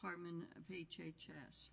Department of HHS.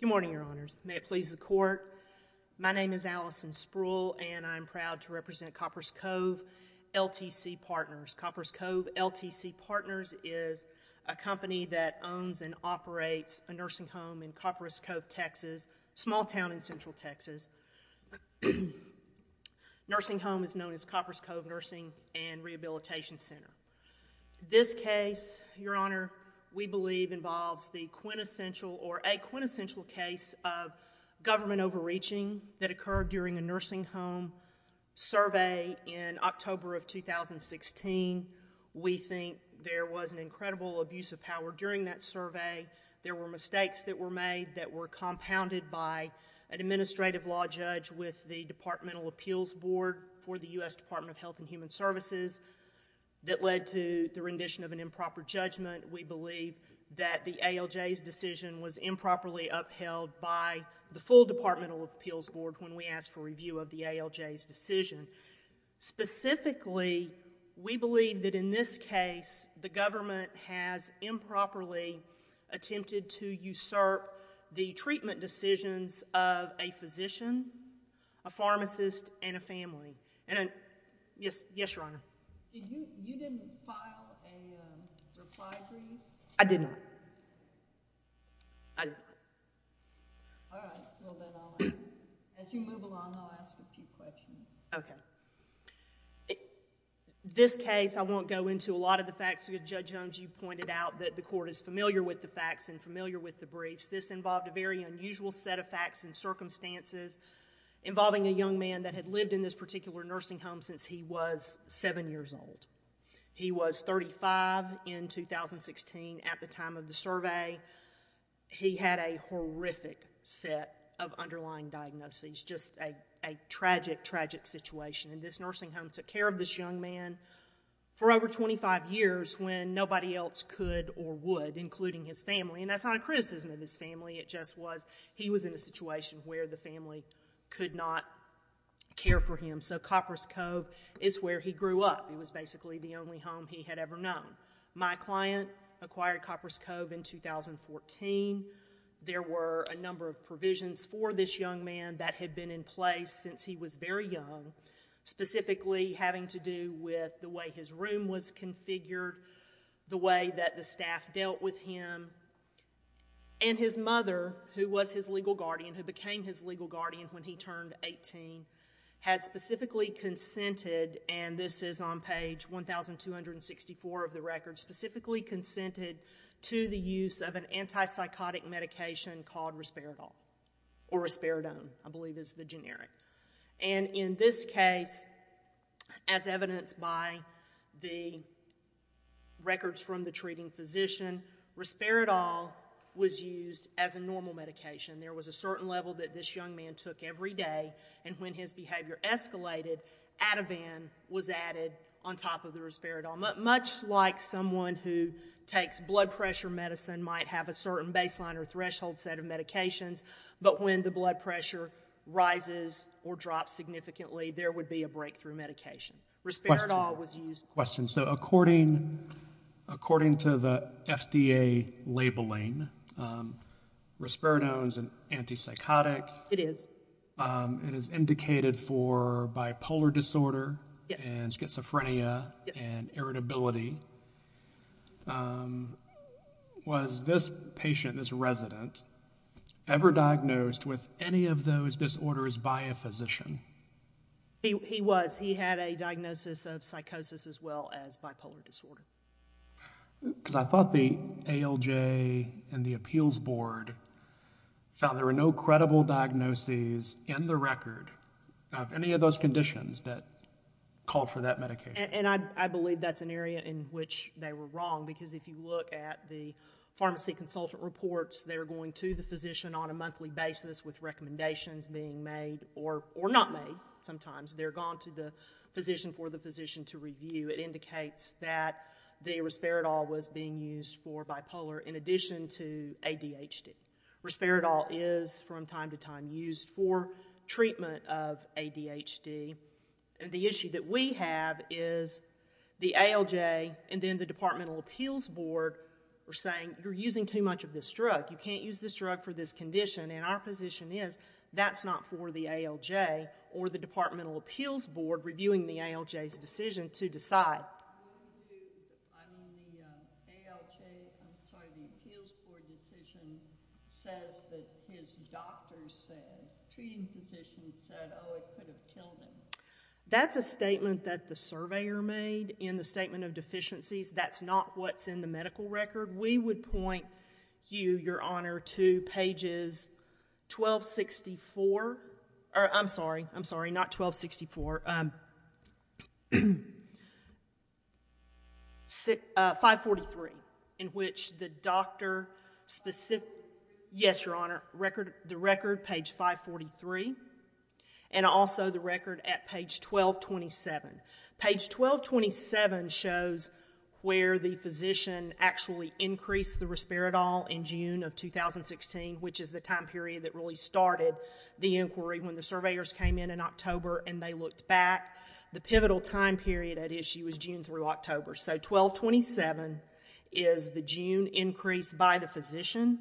Good morning, Your Honors. May it please the Court. My name is Allison Spruill and I'm proud to represent Coppers Cove LTC Partners. Coppers Cove LTC Partners is a company that owns and operates a nursing home in Coppers Cove, Texas, a small town in Central Texas. A nursing home is known as Coppers Cove Nursing and Rehabilitation Center. This case, Your Honor, we believe involves the quintessential or a quintessential case of government overreaching that occurred during a nursing home survey in October of 2016. We think there was an incredible abuse of power during that survey. There were mistakes that were made that were made by a law judge with the Departmental Appeals Board for the U.S. Department of Health and Human Services that led to the rendition of an improper judgment. We believe that the ALJ's decision was improperly upheld by the full Departmental Appeals Board when we asked for review of the ALJ's decision. Specifically, we believe that in this case, the government has improperly attempted to usurp the treatment decisions of a physician, a pharmacist, and a family. Yes, Your Honor? You didn't file a reply brief? I did not. All right. Well, then I'll ask a few questions. Okay. This case, I won't go into a lot of the facts because Judge Holmes, you pointed out that the court is familiar with the facts and familiar with the briefs. This involved a very unusual set of facts and circumstances involving a young man that had lived in this particular nursing home since he was seven years old. He was 35 in 2016 at the time of the survey. He had a horrific set of underlying diagnoses, just a tragic, tragic situation. This nursing home took care of this young man for over 25 years when nobody else could or would, including his family. And that's not a criticism of his family. It just was he was in a situation where the family could not care for him. So Copper's Cove is where he grew up. It was basically the only home he had ever known. My client acquired Copper's Cove in 2014. There were a number of provisions for this young man that had been in place since he was very young, specifically having to do with the way his room was configured, the way that the staff dealt with him. And his mother, who was his legal guardian, who became his legal guardian when he turned 18, had specifically consented, and this is on page 1,264 of the record, specifically consented to the use of an antipsychotic medication called Risperidol, or Risperidone, I believe is the generic. And in this case, as evidenced by the records from the treating physician, Risperidol was used as a normal medication. There was a certain level that this young man took every day, and when his behavior escalated, Ativan was added on top of the Risperidol. Much like someone who takes blood pressure medicine might have a certain baseline or threshold set of medications, but when the blood pressure rises or drops significantly, there would be a breakthrough medication. Risperidol was used. Question. So according to the FDA labeling, Risperidone is an antipsychotic. It is. It is indicated for bipolar disorder and schizophrenia and irritability. Was this patient, this resident, ever diagnosed with any of those disorders by a physician? He was. He had a diagnosis of psychosis as well as bipolar disorder. Because I thought the ALJ and the appeals board found there were no credible diagnoses in the record of any of those conditions that called for that medication. And I believe that's an area in which they were wrong, because if you look at the pharmacy consultant reports, they're going to the physician on a monthly basis with recommendations being made or not made sometimes. They're going to the physician for the physician to review. It indicates that the Risperidol was being used for bipolar in addition to ADHD. Risperidol is from time to time used for treatment of ADHD. And the issue that we have is the ALJ and then the departmental appeals board are saying you're using too much of this drug. You can't use this drug for this condition. And our position is that's not for the ALJ or the departmental appeals board reviewing the ALJ's decision to decide. I'm on the ALJ, I'm sorry, the appeals board decision says that his doctor said, treating physician said, oh, it could have killed him. That's a statement that the surveyor made in the statement of deficiencies. That's not what's in the medical record. We would point you, your honor, to pages 1264, or I'm sorry, I'm sorry, not 1264, 543, in which the doctor, yes, your honor, the record, page 543, and also the record at page 1227. Page 1227 shows where the physician actually increased the Risperidol in June of 2016, which is the time period that really started the inquiry when the surveyors came in in October and they looked back. The pivotal time period at issue is June through October. So 1227 is the June increase by the physician.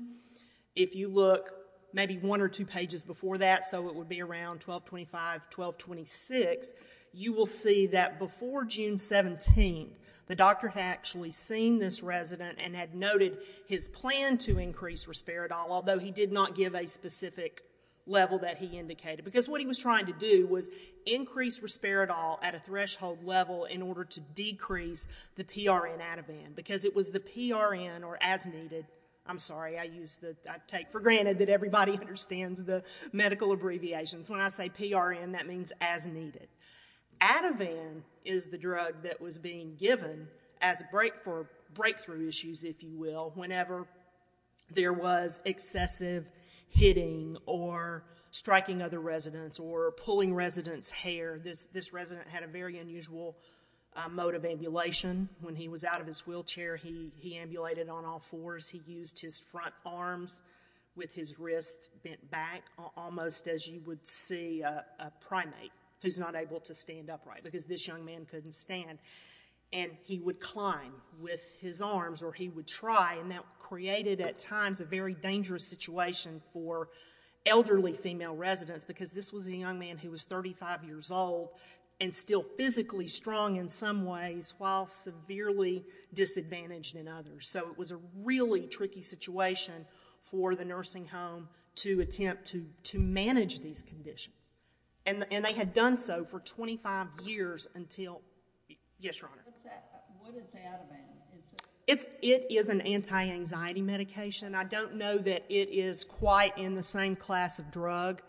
If you look maybe one or two pages before that, so it would be around 1225, 1226, you will see that before June 17th, the doctor had actually seen this resident and had noted his plan to increase Risperidol, although he did not give a specific level that he indicated, because what he was trying to do was increase Risperidol at a threshold level in order to decrease the PRN Ativan, because it was the PRN, or as needed, I'm sorry, I take for granted that everybody understands the medical abbreviations. When I say PRN, that means as needed. Ativan is the drug that was being given as a break for breakthrough issues, if you will, whenever there was excessive hitting or striking other residents or pulling residents' hair. This resident had a very unusual mode of ambulation. When he was out of his wheelchair, he ambulated on all fours. He used his front arms with his wrist bent back, almost as you would see a primate who's not able to stand upright, because this young man couldn't stand. He would climb with his arms, or he would try, and that created at times a very dangerous situation for elderly female residents, because this was a young man who was 35 years old and still physically strong in some ways, while severely disadvantaged in others. It was a really tricky situation for the nursing home to attempt to manage these conditions. They had done so for 25 years until... Yes, Your Honor. What is Ativan? It is an anti-anxiety medication. I don't know that it is quite in the same class of drug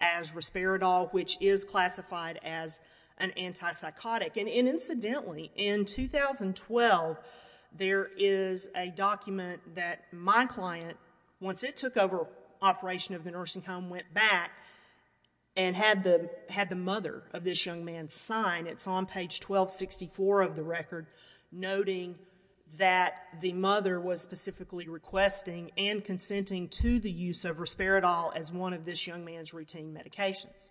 as Risperidol, which is classified as an antipsychotic. Incidentally, in 2012, there is a document that my client, once it took over operation of the nursing home, went back and had the mother of this young man sign. It's on page 1264 of the record, noting that the mother was specifically requesting and consenting to the use of Risperidol as one of this young man's routine medications.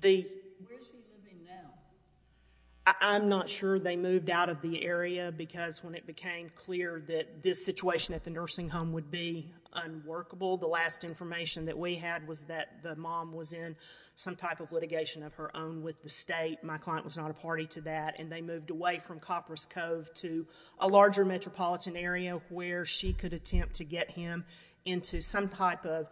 Where is she living now? I'm not sure. They moved out of the area, because when it became clear that this situation at the nursing home would be unworkable, the last information that we had was that the mom was in some type of litigation of her own with the state. My client was not a party to that, and they moved away from Coppers Cove to a larger metropolitan area where she could attempt to get him into some type of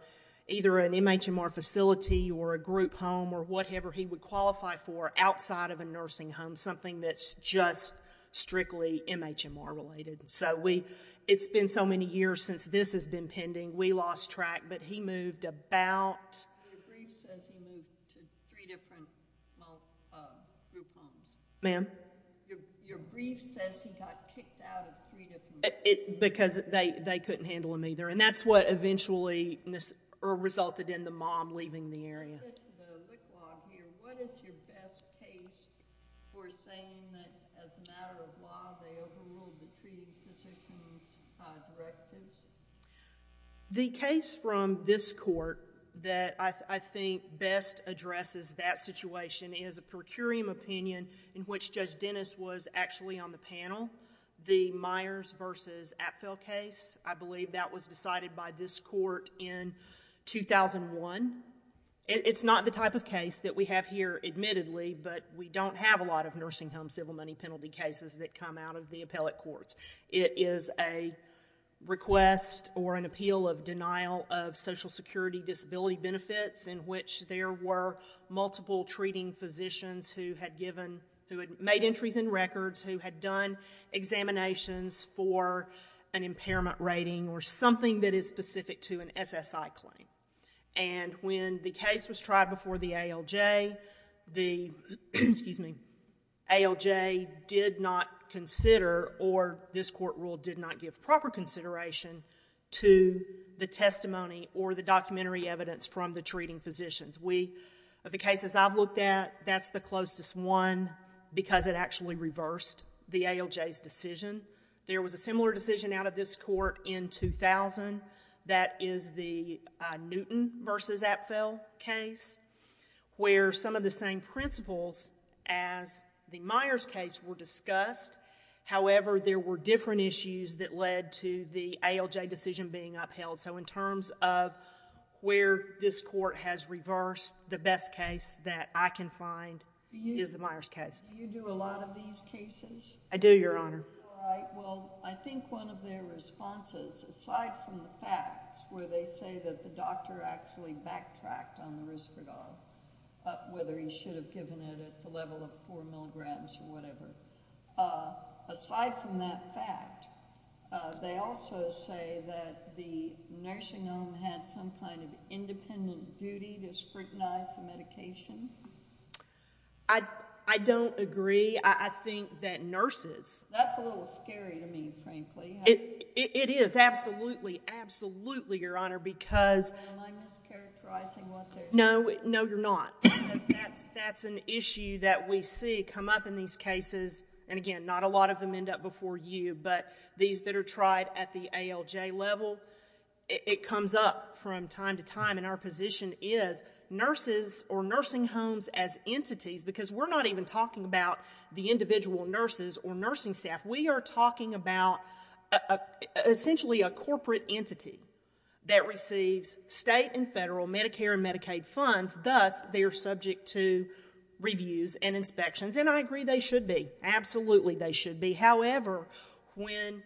either an MHMR facility or a group home or whatever he would qualify for outside of a nursing home, something that's just strictly MHMR related. It's been so many years since this has been pending, we lost track, but he moved about... Your brief says he moved to three different group homes. Ma'am? Your brief says he got kicked out of three different groups. Because they couldn't handle him either, and that's what eventually resulted in the mom leaving the area. With the wick law here, what is your best case for saying that as a matter of law, they overruled the treaty's decisions, directives? The case from this court that I think best addresses that situation is a per curiam opinion in which Judge Dennis was actually on the panel. The Myers versus Apfel case, I believe that was decided by this court in 2001. It's not the type of case that we have here admittedly, but we don't have a lot of nursing home civil money penalty cases that come out of the appellate courts. It is a request or an appeal of denial of social security disability benefits in which there were multiple treating physicians who had made entries in records, who had done examinations for an impairment rating or something that is specific to an SSI claim. And when the case was tried before the ALJ, the ALJ did not consider or this court rule did not give proper consideration to the testimony or the documentary evidence from the treating physicians. The cases I've looked at, that's the closest one because it actually reversed the ALJ's decision. There was a similar decision out of this court in 2000 that is the Newton versus Apfel case where some of the same principles as the Myers case were discussed. However, there were different issues that led to the ALJ decision being upheld. So in terms of where this court has reversed the best case that I can find is the Myers case. Do you do a lot of these cases? I do, Your Honor. All right. Well, I think one of their responses aside from the facts where they say that the doctor actually backtracked on the Risperdal, whether he should have given it at the level of four or five or whatever, I don't think the nursing home had some kind of independent duty to scrutinize the medication. I don't agree. I think that nurses... That's a little scary to me, frankly. It is, absolutely, absolutely, Your Honor, because... Am I mischaracterizing what they're saying? No, no, you're not. That's an issue that we see come up in these cases and again, not a lot of them end up for you, but these that are tried at the ALJ level, it comes up from time to time and our position is nurses or nursing homes as entities, because we're not even talking about the individual nurses or nursing staff. We are talking about essentially a corporate entity that receives state and federal Medicare and Medicaid funds, thus they're subject to reviews and inspections and I agree they should be, absolutely they should be, however, when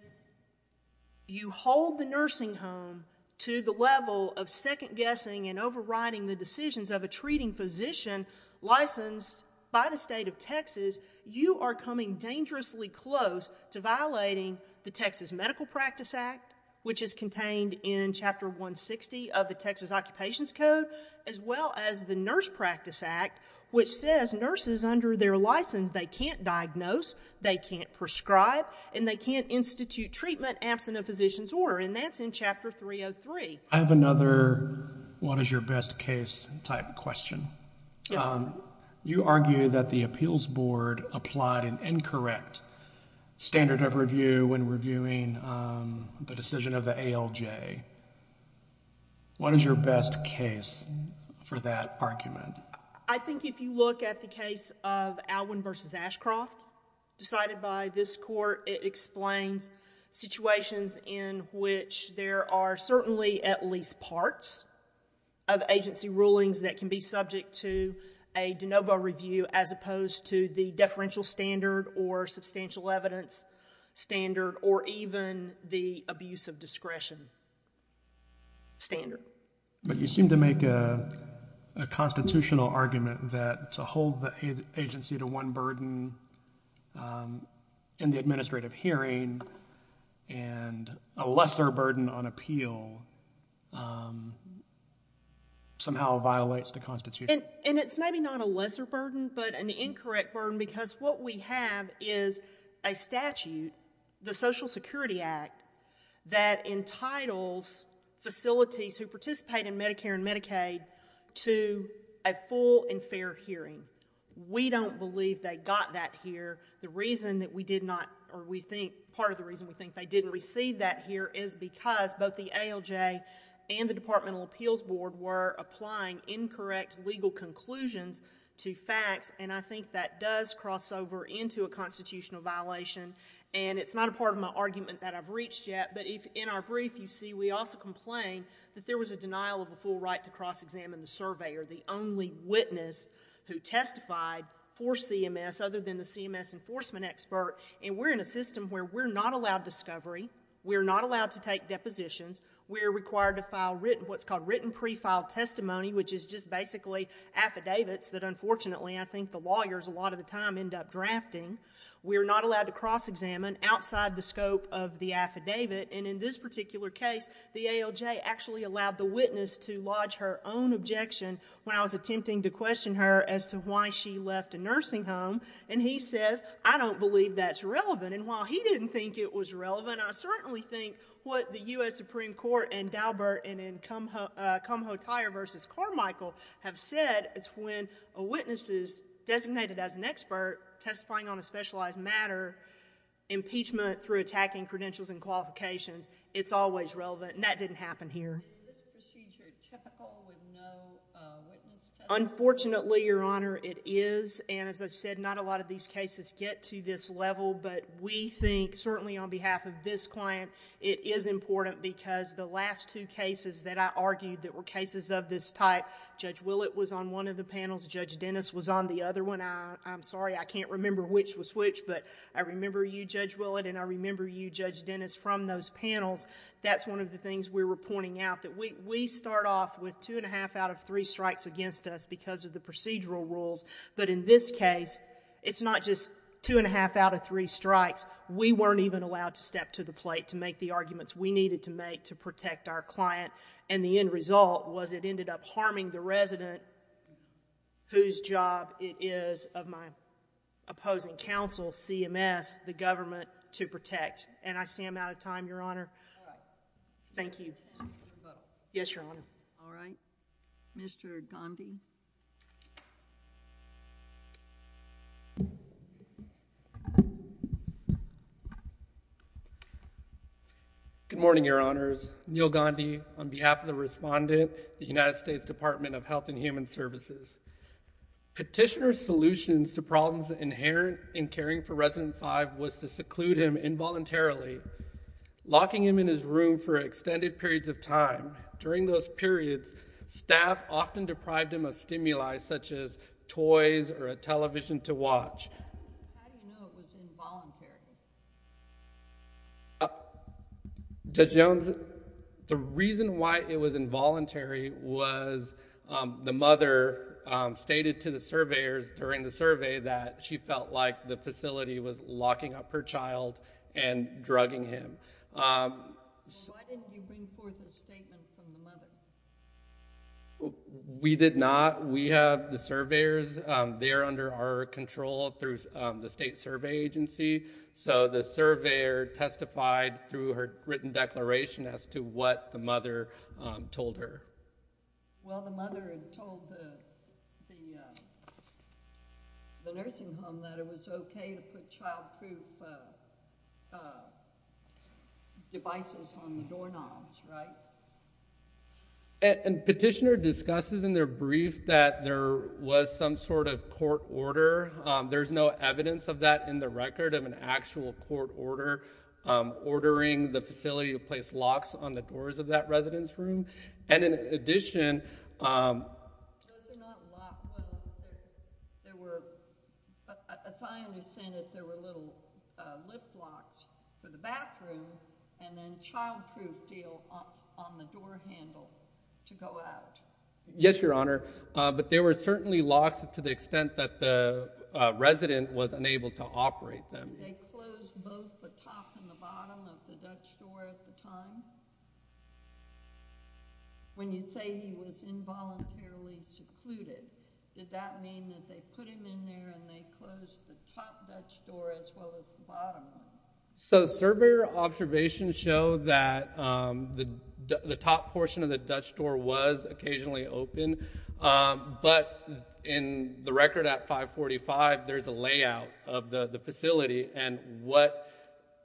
you hold the nursing home to the level of second guessing and overriding the decisions of a treating physician licensed by the state of Texas, you are coming dangerously close to violating the Texas Medical Practice Act, which is contained in Chapter 160 of the Texas Occupations Code, as well as the Nurse Practice Act, which says nurses under their license, they can't diagnose, they can't prescribe and they can't institute treatment absent a physician's order and that's in Chapter 303. I have another what is your best case type question. You argue that the appeals board applied an incorrect standard of review when reviewing the decision of the ALJ. What is your best case for that argument? I think if you look at the case of Alwin v. Ashcroft decided by this court, it explains situations in which there are certainly at least parts of agency rulings that can be subject to a de novo review as opposed to the deferential standard or substantial evidence standard or even the abuse of discretion standard. You seem to make a constitutional argument that to hold the agency to one burden in the administrative hearing and a lesser burden on appeal somehow violates the constitution. It's maybe not a lesser burden but an incorrect burden because what we have is a statute, the Social Security Act, that entitles facilities who participate in Medicare and Medicaid to a full and fair hearing. We don't believe they got that here. The reason that we did not or we think part of the reason we think they didn't receive that here is because both the ALJ and the departmental appeals board were applying incorrect legal conclusions to facts and I think that does cross over into a constitutional violation and it's not a part of my argument that I've reached yet but in our brief you see we also complain that there was a denial of a full right to cross examine the surveyor, the only witness who testified for CMS other than the CMS enforcement expert and we're in a system where we're not allowed discovery, we're not allowed to take depositions, we're required to file what's called written pre-filed testimony which is just basically affidavits that unfortunately I think the lawyers a lot of the time end up drafting. We're not allowed to cross examine outside the scope of the affidavit and in this particular case the ALJ actually allowed the witness to lodge her own objection when I was attempting to question her as to why she left a nursing home and he says I don't believe that's relevant and while he didn't think it was relevant I certainly think what the U.S. Supreme Court and Daubert and in Kumho-Tyre v. Carmichael have said is when a witness is designated as an expert testifying on a specialized matter impeachment through attacking credentials and qualifications it's always relevant and that didn't happen here. Is this procedure typical with no witness testimony? Unfortunately Your Honor it is and as I said not a lot of these cases get to this level but we think certainly on behalf of this client it is important because the last two cases that I argued that were cases of this type, Judge Willett was on one of the panels, Judge Dennis was on the other one, I'm sorry I can't remember which was which but I remember you Judge Willett and I remember you Judge Dennis from those panels, that's one of the things we were pointing out that we start off with two and a half out of three strikes against us because of the procedural rules but in this case it's not just two and a half out of three strikes, we weren't even allowed to step to the plate to make the arguments we needed to make to protect our client and the end result was it ended up harming the resident whose job it is of my opposing counsel CMS the government to protect and I see I'm out of time Your Honor. Thank you. Yes, Your Honor. All right, Mr. Gandhi. Good morning Your Honors, Neil Gandhi on behalf of the respondent, the United States Department of Health and Human Services. Petitioner's solutions to problems inherent in caring for resident five was to seclude him involuntarily, locking him in his room for extended periods of time. During those periods, staff often deprived him of stimuli such as toys or a television to watch. How do you know it was involuntary? Judge Jones, the reason why it was involuntary was the mother stated to the surveyors during the survey that she felt like the facility was locking up her child and drugging him. Why didn't you bring forth a statement from the mother? We did not. We have the surveyors, they're under our control through the state survey agency. So the surveyor testified through her written declaration as to what the mother told her. Well, the mother had told the nursing home that it was okay to put child-proof devices on the doorknobs, right? And Petitioner discusses in their brief that there was some sort of court order. There's no evidence of that in the record of an actual court order ordering the facility to place locks on the doors of that residence room. And in addition... Those are not locks. As I understand it, there were little lift locks for the bathroom and then a child-proof deal on the door handle to go out. Yes, Your Honor. But there were certainly locks to the extent that the resident was unable to operate them. Did they close both the top and the bottom of the Dutch door at the time? When you say he was involuntarily secluded, did that mean that they put him in there and they closed the top Dutch door as well as the bottom one? So, surveyor observations show that the top portion of the Dutch door was occasionally open, but in the record at 545, there's a layout of the facility, and what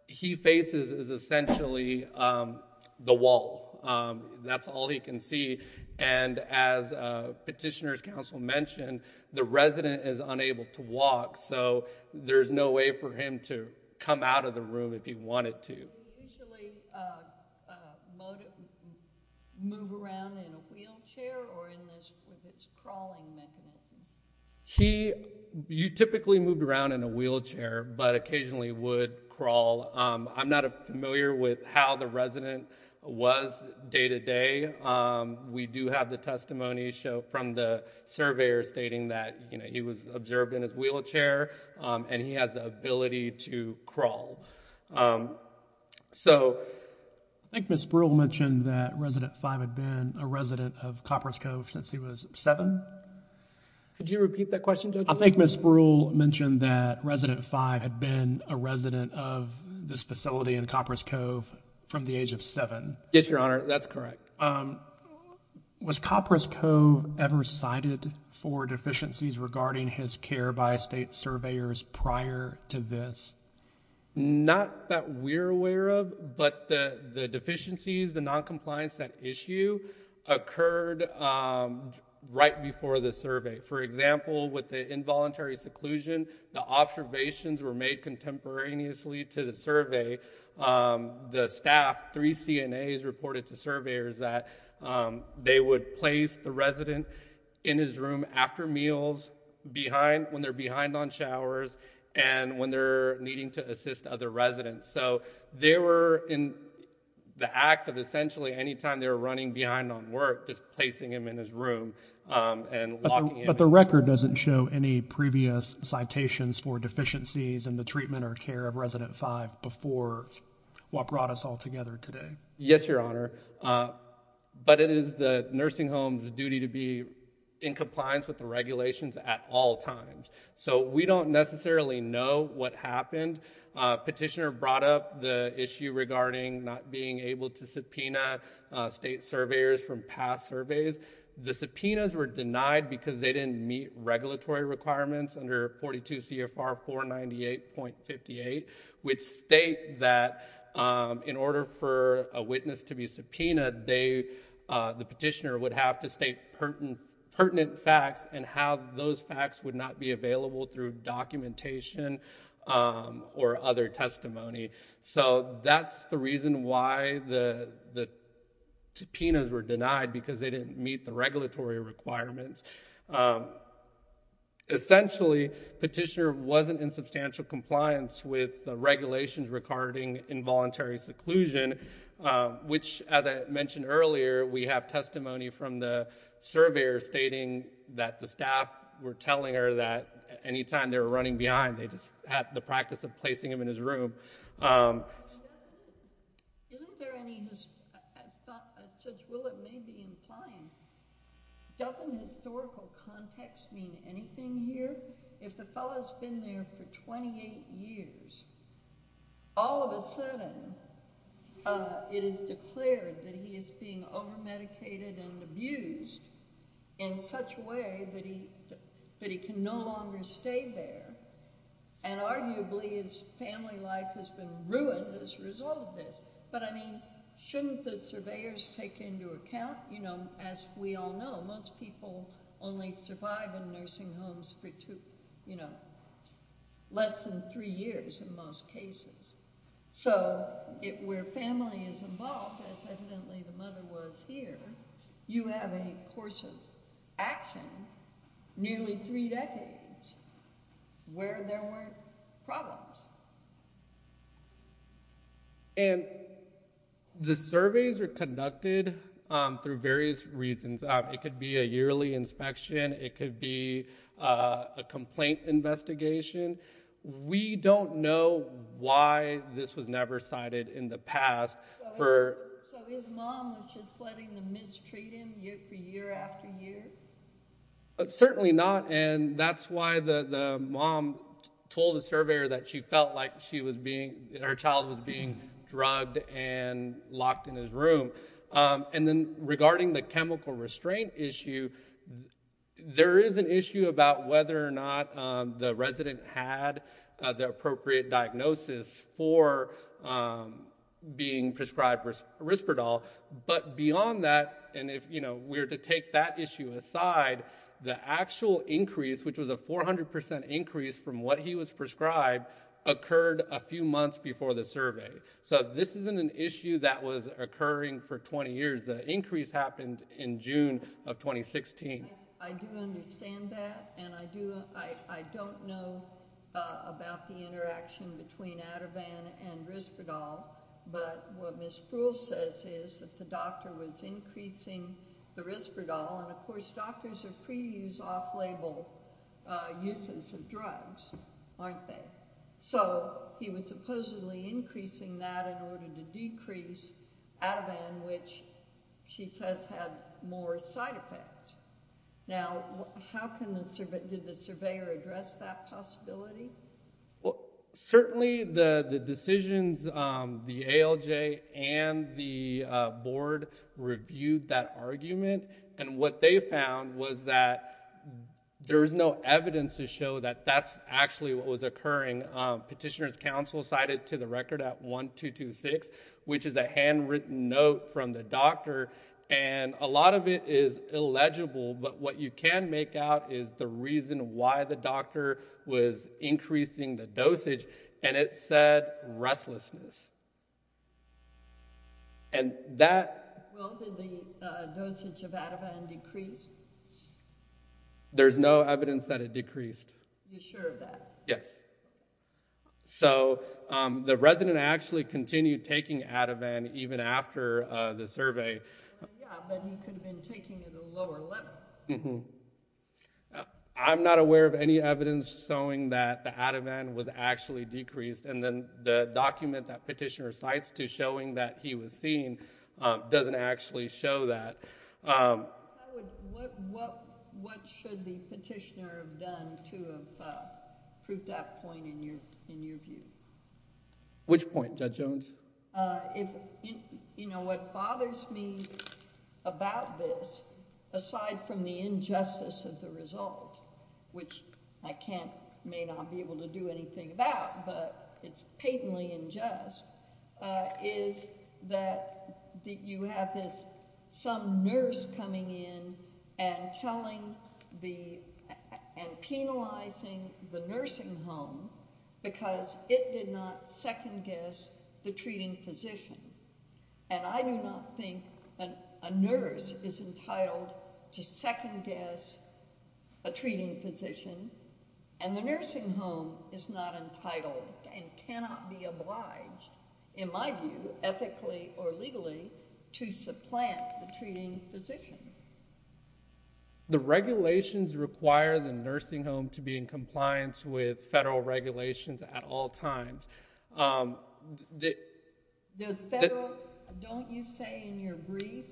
he faces is essentially the wall. That's all he can see, and as Petitioner's counsel mentioned, the resident is unable to walk, so there's no way for him to come out of the room if he wanted to. Did he usually move around in a wheelchair or with his crawling mechanism? He typically moved around in a wheelchair, but occasionally would crawl. I'm not familiar with how the resident was day-to-day. We do have the testimony from the surveyor stating that he was observed in his wheelchair, and he has the ability to crawl. I think Ms. Brewer mentioned that resident five had been a resident of Copper's Cove since he was seven. Could you repeat that question, Judge? I think Ms. Brewer mentioned that resident five had been a resident of this facility in Copper's Cove from the age of seven. Yes, Your Honor, that's correct. Was Copper's Cove ever cited for deficiencies regarding his care by state surveyors prior to this? Not that we're aware of, but the deficiencies, the noncompliance, that issue occurred right before the survey. For example, with the involuntary seclusion, the observations were made contemporaneously to the survey. The staff, three CNAs, reported to surveyors that they would place the resident in his room after meals when they're behind on showers and when they're needing to assist other residents. They were in the act of essentially any time they were running behind on work, just placing him in his room and locking him in. But the record doesn't show any previous citations for deficiencies in the treatment or care of resident five before what brought us all together today. Yes, Your Honor, but it is the nursing home's duty to be in compliance with the regulations at all times. So we don't necessarily know what happened. Petitioner brought up the issue regarding not being able to subpoena state surveyors from past surveys. The subpoenas were denied because they didn't meet regulatory requirements under 42 CFR 498.58, which state that in order for a witness to be subpoenaed, the petitioner would have to state pertinent facts and how those facts would not be available through documentation or other testimony. So that's the reason why the subpoenas were denied, because they didn't meet the regulatory requirements. Essentially, petitioner wasn't in substantial compliance with the regulations regarding involuntary seclusion, which as I mentioned earlier, we have testimony from the surveyor stating that the staff were telling her that any time they were running behind, they just had the practice of placing him in his room. Isn't there any, as Judge Willett may be implying, doesn't historical context mean anything here? If the fellow's been there for 28 years, all of a sudden it is declared that he is being overmedicated and abused in such a way that he can no longer stay there, and arguably his family life has been ruined as a result of this. But I mean, shouldn't the surveyors take into account, as we all know, most people only survive in nursing homes for less than three years in most cases. So where family is involved, as evidently the mother was here, you have a course of action, nearly three decades, where there weren't problems. And the surveys are conducted through various reasons. It could be a yearly inspection. It could be a complaint investigation. We don't know why this was never cited in the past. So his mom was just letting them mistreat him year after year after year? Certainly not. And that's why the mom told the surveyor that she felt like her child was being drugged and locked in his room. And then regarding the chemical restraint issue, there is an issue about whether or not he had the appropriate diagnosis for being prescribed Risperdal. But beyond that, and if we're to take that issue aside, the actual increase, which was a 400% increase from what he was prescribed, occurred a few months before the survey. So this isn't an issue that was occurring for 20 years. The increase happened in June of 2016. I do understand that, and I don't know about the interaction between Ativan and Risperdal. But what Ms. Brewer says is that the doctor was increasing the Risperdal, and of course doctors are free to use off-label uses of drugs, aren't they? So he was supposedly increasing that in order to decrease Ativan, which she says had more of a side effect. Now, did the surveyor address that possibility? Well, certainly the decisions, the ALJ and the board reviewed that argument. And what they found was that there was no evidence to show that that's actually what was occurring. Petitioner's counsel cited to the record at 1226, which is a handwritten note from the But what you can make out is the reason why the doctor was increasing the dosage, and it said restlessness. Well, did the dosage of Ativan decrease? There's no evidence that it decreased. You're sure of that? Yes. So the resident actually continued taking Ativan even after the survey. Yeah, but he could have been taking it at a lower level. I'm not aware of any evidence showing that the Ativan was actually decreased. And then the document that petitioner cites to showing that he was seen doesn't actually show that. What should the petitioner have done to have proved that point in your view? Which point, Judge Jones? You know, what bothers me about this, aside from the injustice of the result, which I can't, may not be able to do anything about, but it's patently unjust, is that you have this, some nurse coming in and telling the, and penalizing the nursing home because it did not second-guess the treating physician. And I do not think a nurse is entitled to second-guess a treating physician, and the nursing home is not entitled and cannot be obliged, in my view, ethically or legally, to supplant the treating physician. The regulations require the nursing home to be in compliance with federal regulations at all times. The federal, don't you say in your brief,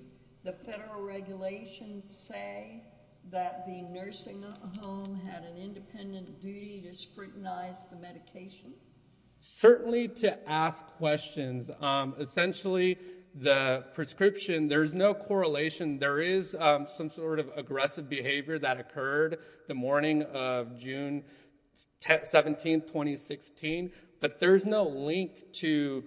the federal regulations say that the nursing home had an independent duty to scrutinize the medication? Certainly to ask questions. Essentially, the prescription, there's no correlation. There is some sort of aggressive behavior that occurred the morning of June 17, 2016, but there's no link to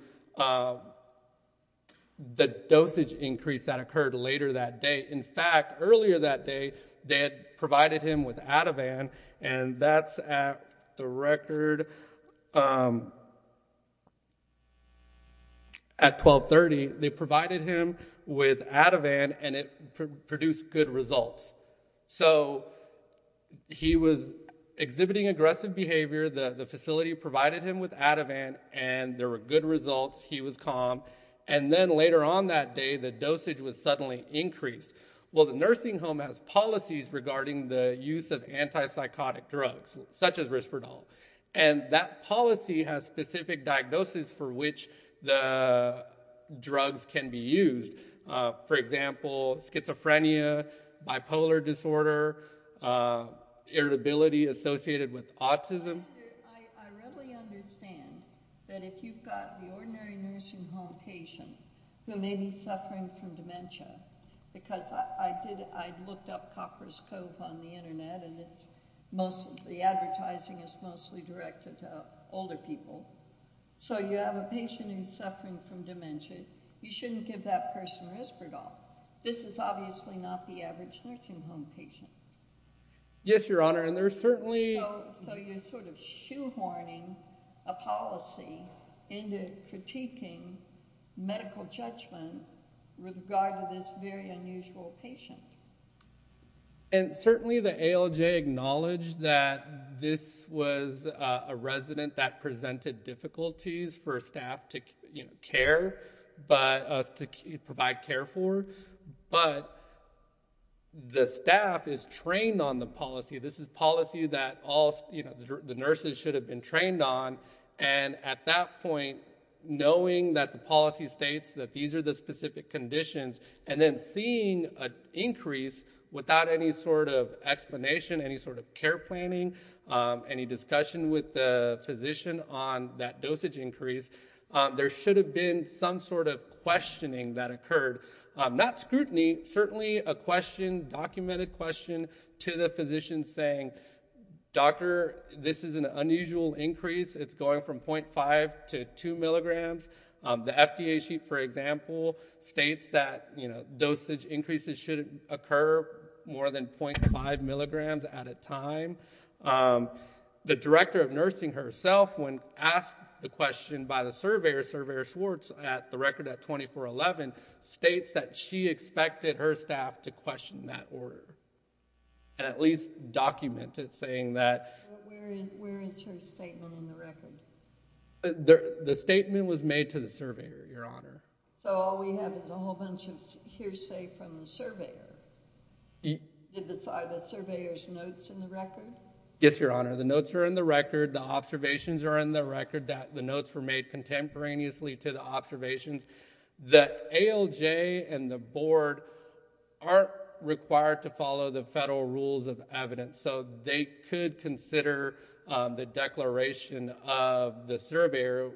the dosage increase that occurred later that day. In fact, earlier that day, they had provided him with Ativan, and that's at the record, at 1230, they provided him with Ativan, and it produced good results. So he was exhibiting aggressive behavior. The facility provided him with Ativan, and there were good results. He was calm. And then later on that day, the dosage was suddenly increased. Well, the nursing home has policies regarding the use of anti-psychotic drugs, such as Risperdal, and that policy has specific diagnoses for which the drugs can be used. For example, schizophrenia, bipolar disorder, irritability associated with autism. I readily understand that if you've got the ordinary nursing home patient who may be suffering from dementia, because I looked up Copper's Cove on the website, and the advertising is mostly directed to older people. So you have a patient who's suffering from dementia. You shouldn't give that person Risperdal. This is obviously not the average nursing home patient. Yes, Your Honor, and there's certainly... So you're sort of shoehorning a policy into critiquing medical judgment with regard to this very unusual patient. And certainly the ALJ acknowledged that this was a resident that presented difficulties for staff to provide care for, but the staff is trained on the policy. This is policy that the nurses should have been trained on, and at that point, knowing that the policy states that these are the specific conditions, and then seeing an increase without any sort of explanation, any sort of care planning, any discussion with the physician on that dosage increase, there should have been some sort of questioning that occurred. Not scrutiny, certainly a question, documented question, to the physician saying, doctor, this is an unusual increase. It's going from .5 to 2 milligrams. The FDA sheet, for example, states that dosage increases should occur more than .5 milligrams at a time. The director of nursing herself, when asked the question by the surveyor, Surveyor Schwartz, at the record at 2411, states that she expected her staff to question that order, and at least document it, saying that... Where is her statement in the record? The statement was made to the surveyor, Your Honor. So all we have is a whole bunch of hearsay from the surveyor. Are the surveyor's notes in the record? Yes, Your Honor. The notes are in the record. The observations are in the record. The notes were made contemporaneously to the observations. The ALJ and the board aren't required to follow the federal rules of evidence, so they could consider the declaration of the surveyor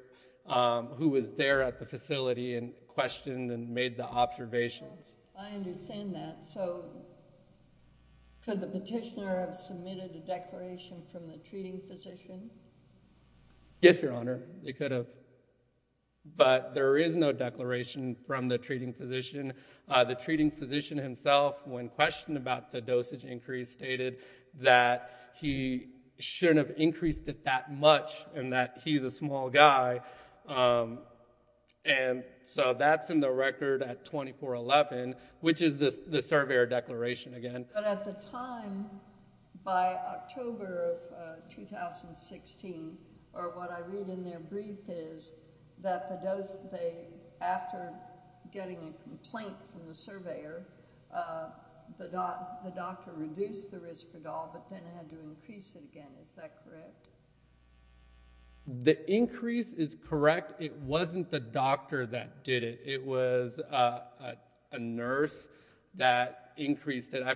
who was there at the facility and questioned and made the observations. I understand that. So could the petitioner have submitted a declaration from the treating physician? Yes, Your Honor, they could have. But there is no declaration from the treating physician. The treating physician himself, when questioned about the dosage increase, he stated that he shouldn't have increased it that much and that he's a small guy. And so that's in the record at 2411, which is the surveyor declaration again. But at the time, by October of 2016, or what I read in their brief is that the dose they... After getting a complaint from the surveyor, the doctor reduced the risk at all, but then had to increase it again. Is that correct? The increase is correct. It wasn't the doctor that did it. It was a nurse that increased it. I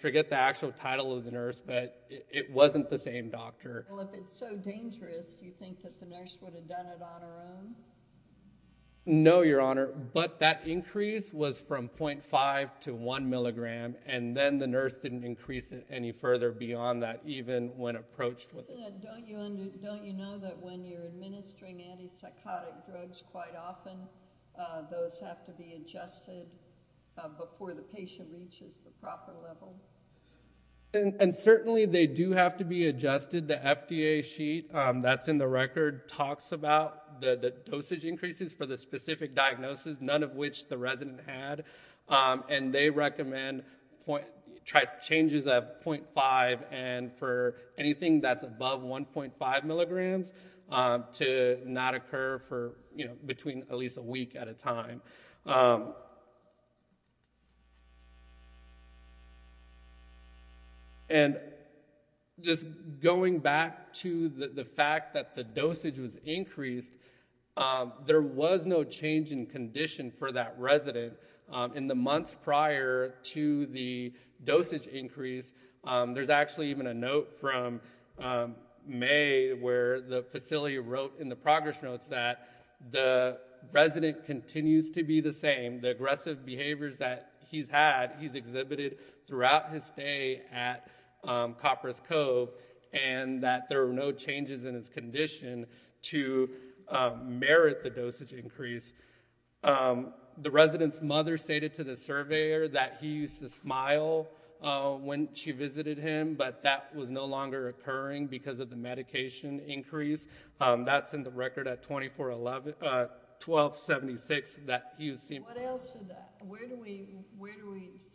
forget the actual title of the nurse, but it wasn't the same doctor. Well, if it's so dangerous, do you think that the nurse would have done it on her own? No, Your Honor. But that increase was from .5 to 1 milligram, and then the nurse didn't increase it any further beyond that, even when approached with it. Don't you know that when you're administering anti-psychotic drugs quite often, those have to be adjusted before the patient reaches the proper level? And certainly they do have to be adjusted. The FDA sheet that's in the record talks about the dosage increases for the specific diagnosis, none of which the resident had, and they recommend changes at .5 and for anything that's above 1.5 milligrams to not occur for at least a week at a time. And just going back to the fact that the dosage was increased, there was no change in condition for that resident. In the months prior to the dosage increase, there's actually even a note from May where the facility wrote in the progress notes that the resident continues to be the same. The aggressive behaviors that he's had, he's exhibited throughout his stay at Copper's Cove, and that there were no changes in his condition to merit the dosage increase. The resident's mother stated to the surveyor that he used to smile when she visited him, but that was no longer occurring because of the medication increase. That's in the record at 1276. What else did that... Where do we...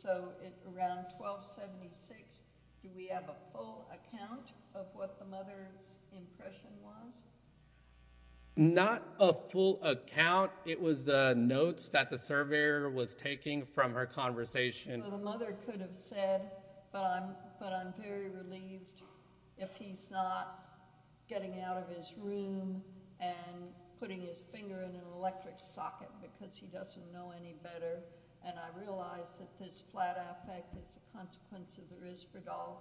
So around 1276, do we have a full account of what the mother's impression was? Not a full account. It was the notes that the surveyor was taking from her conversation. The mother could have said, but I'm very relieved if he's not getting out of his room and putting his finger in an electric socket because he doesn't know any better. And I realize that this flat affect is a consequence of the risperdal,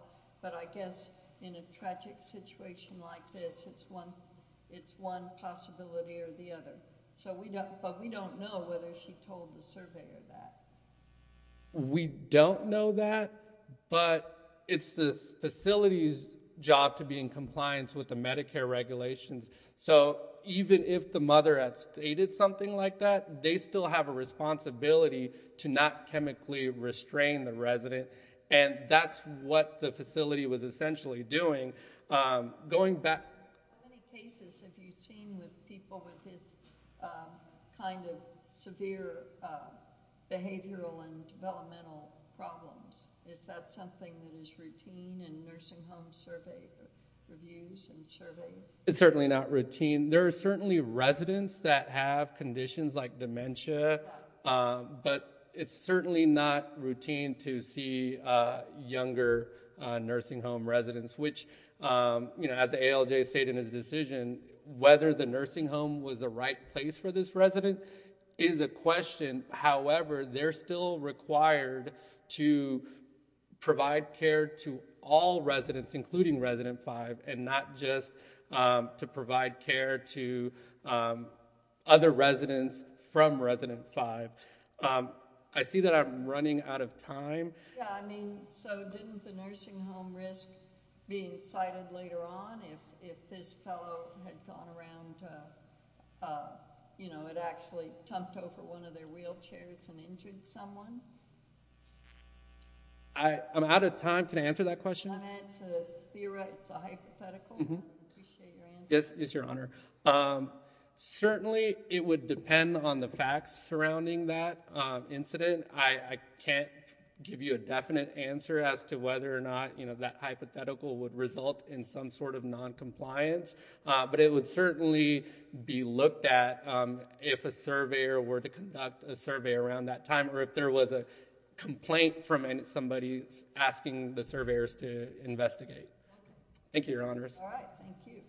but I guess in a tragic situation like this, it's one possibility or the other. But we don't know whether she told the surveyor that. We don't know that, but it's the facility's job to be in compliance with the Medicare regulations. So even if the mother had stated something like that, they still have a responsibility to not chemically restrain the resident, and that's what the facility was essentially doing. Going back... How many cases have you seen with people with this kind of severe behavioral and developmental problems? Is that something that is routine in nursing home survey reviews and surveys? It's certainly not routine. There are certainly residents that have conditions like dementia, but it's certainly not routine to see younger nursing home residents, which, you know, as ALJ stated in his decision, whether the nursing home was the right place for this resident is a question. However, they're still required to provide care to all residents, including resident 5, and not just to provide care to other residents from resident 5. I see that I'm running out of time. Yeah, I mean, so didn't the nursing home risk being cited later on if this fellow had gone around, you know, had actually tumped over one of their wheelchairs and injured someone? I'm out of time. Can I answer that question? I meant to theorize a hypothetical. Appreciate your answer. Yes, Your Honor. Certainly it would depend on the facts surrounding that incident. I can't give you a definite answer as to whether or not, you know, that hypothetical would result in some sort of noncompliance, but it would certainly be looked at if a surveyor were to conduct a survey around that time or if there was a complaint from somebody asking the surveyors to investigate. Thank you, Your Honors. All right. Thank you.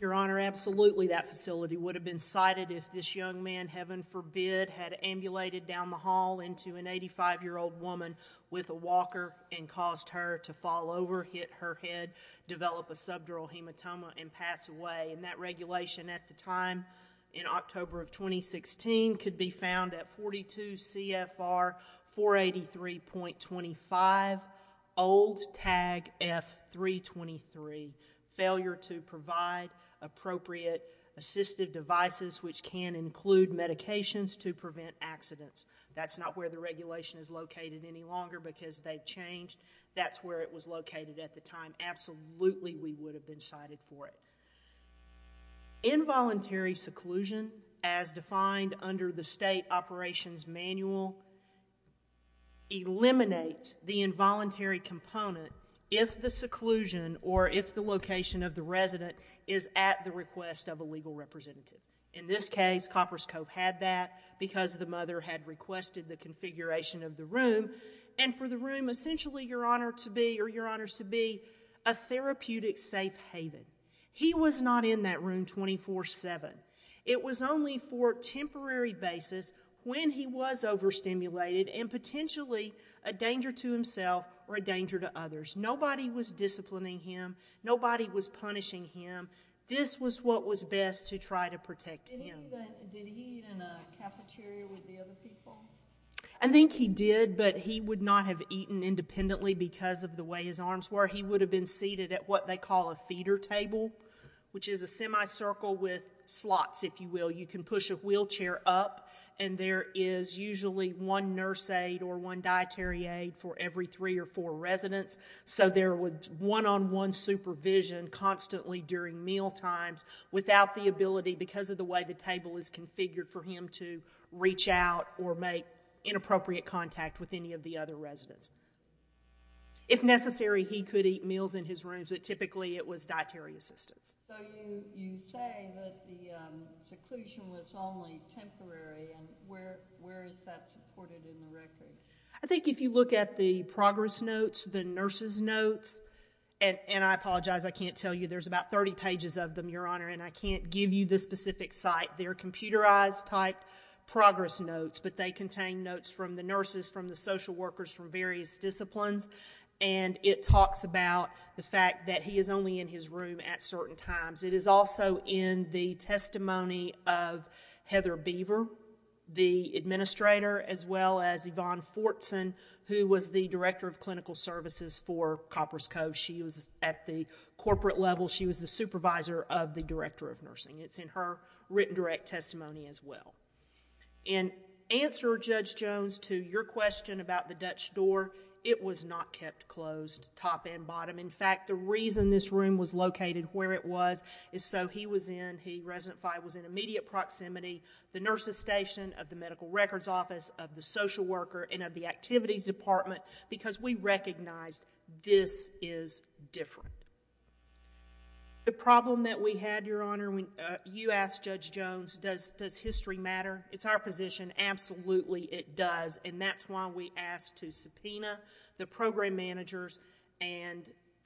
Your Honor, absolutely that facility would have been cited if this young man, heaven forbid, had ambulated down the hall into an 85-year-old woman with a walker and caused her to fall over, hit her head, develop a subdural hematoma, and pass away. And that regulation at the time in October of 2016 could be found at 42 CFR 483.25, old tag F-323, failure to provide appropriate assistive devices, which can include medications, to prevent accidents. That's not where the regulation is located any longer because they've changed. That's where it was located at the time. Absolutely we would have been cited for it. Involuntary seclusion, as defined under the state operations manual, eliminates the involuntary component if the seclusion or if the location of the resident is at the request of a legal representative. In this case, Coppers Cove had that because the mother had requested the configuration of the room and for the room essentially, Your Honor, to be a therapeutic safe haven. He was not in that room 24-7. It was only for a temporary basis when he was overstimulated and potentially a danger to himself or a danger to others. Nobody was disciplining him. Nobody was punishing him. This was what was best to try to protect him. Did he eat in a cafeteria with the other people? I think he did, but he would not have eaten independently because of the way his arms were. He would have been seated at what they call a feeder table, which is a semicircle with slots, if you will. You can push a wheelchair up and there is usually one nurse aide or one dietary aide for every three or four residents, so there was one-on-one supervision constantly during mealtimes without the ability, because of the way the table is configured for him to reach out or make inappropriate contact with any of the other residents. If necessary, he could eat meals in his rooms, but typically it was dietary assistance. So you say that the seclusion was only temporary. Where is that supported in the record? I think if you look at the progress notes, the nurses' notes, and I apologize, I can't tell you, there's about 30 pages of them, Your Honor, and I can't give you the specific site. They're computerized-type progress notes, but they contain notes from the nurses, from the social workers from various disciplines, and it talks about the fact that he is only in his room at certain times. It is also in the testimony of Heather Beaver, the administrator, as well as Yvonne Fortson, who was the director of clinical services for Copper's Cove. She was at the corporate level. She was the supervisor of the director of nursing. It's in her written direct testimony as well. In answer, Judge Jones, to your question about the Dutch door, it was not kept closed, top and bottom. In fact, the reason this room was located where it was is so he was in, he, resident five, was in immediate proximity, the nurses station, of the medical records office, of the social worker, and of the activities department, because we recognized this is different. The problem that we had, Your Honor, when you asked Judge Jones, does history matter? It's our position. Absolutely it does, and that's why we asked to subpoena the program managers and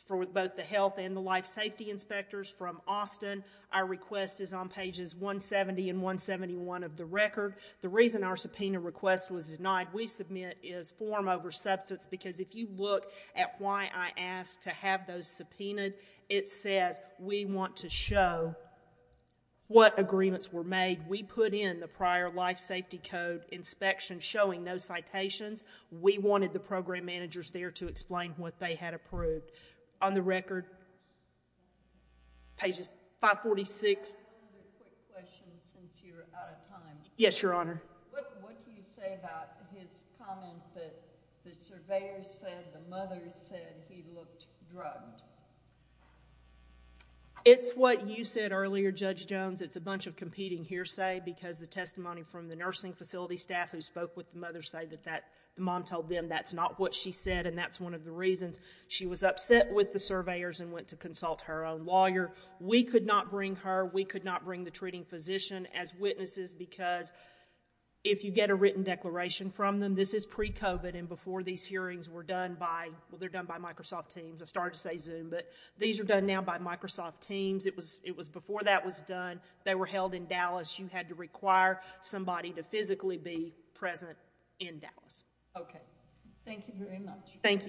for both the health and the life safety inspectors from Austin. Our request is on pages 170 and 171 of the record. The reason our subpoena request was denied, we submit as form over substance, because if you look at why I asked to have those subpoenaed, it says we want to show what agreements were made. We put in the prior life safety code inspection showing no citations. We wanted the program managers there to explain what they had approved. On the record, pages 546. I have one other quick question since you're out of time. Yes, Your Honor. What do you say about his comment that the surveyors said, the mothers said he looked drugged? It's what you said earlier, Judge Jones. It's a bunch of competing hearsay because the testimony from the nursing facility staff who spoke with the mothers said that the mom told them that's not what she said, and that's one of the reasons she was upset with the surveyors and went to consult her own lawyer. We could not bring her. We could not bring the treating physician as witnesses because if you get a written declaration from them, this is pre-COVID, and before these hearings were done by Microsoft Teams, I started to say Zoom, but these are done now by Microsoft Teams. It was before that was done. They were held in Dallas. You had to require somebody to physically be present in Dallas. Okay. Thank you very much. Thank you.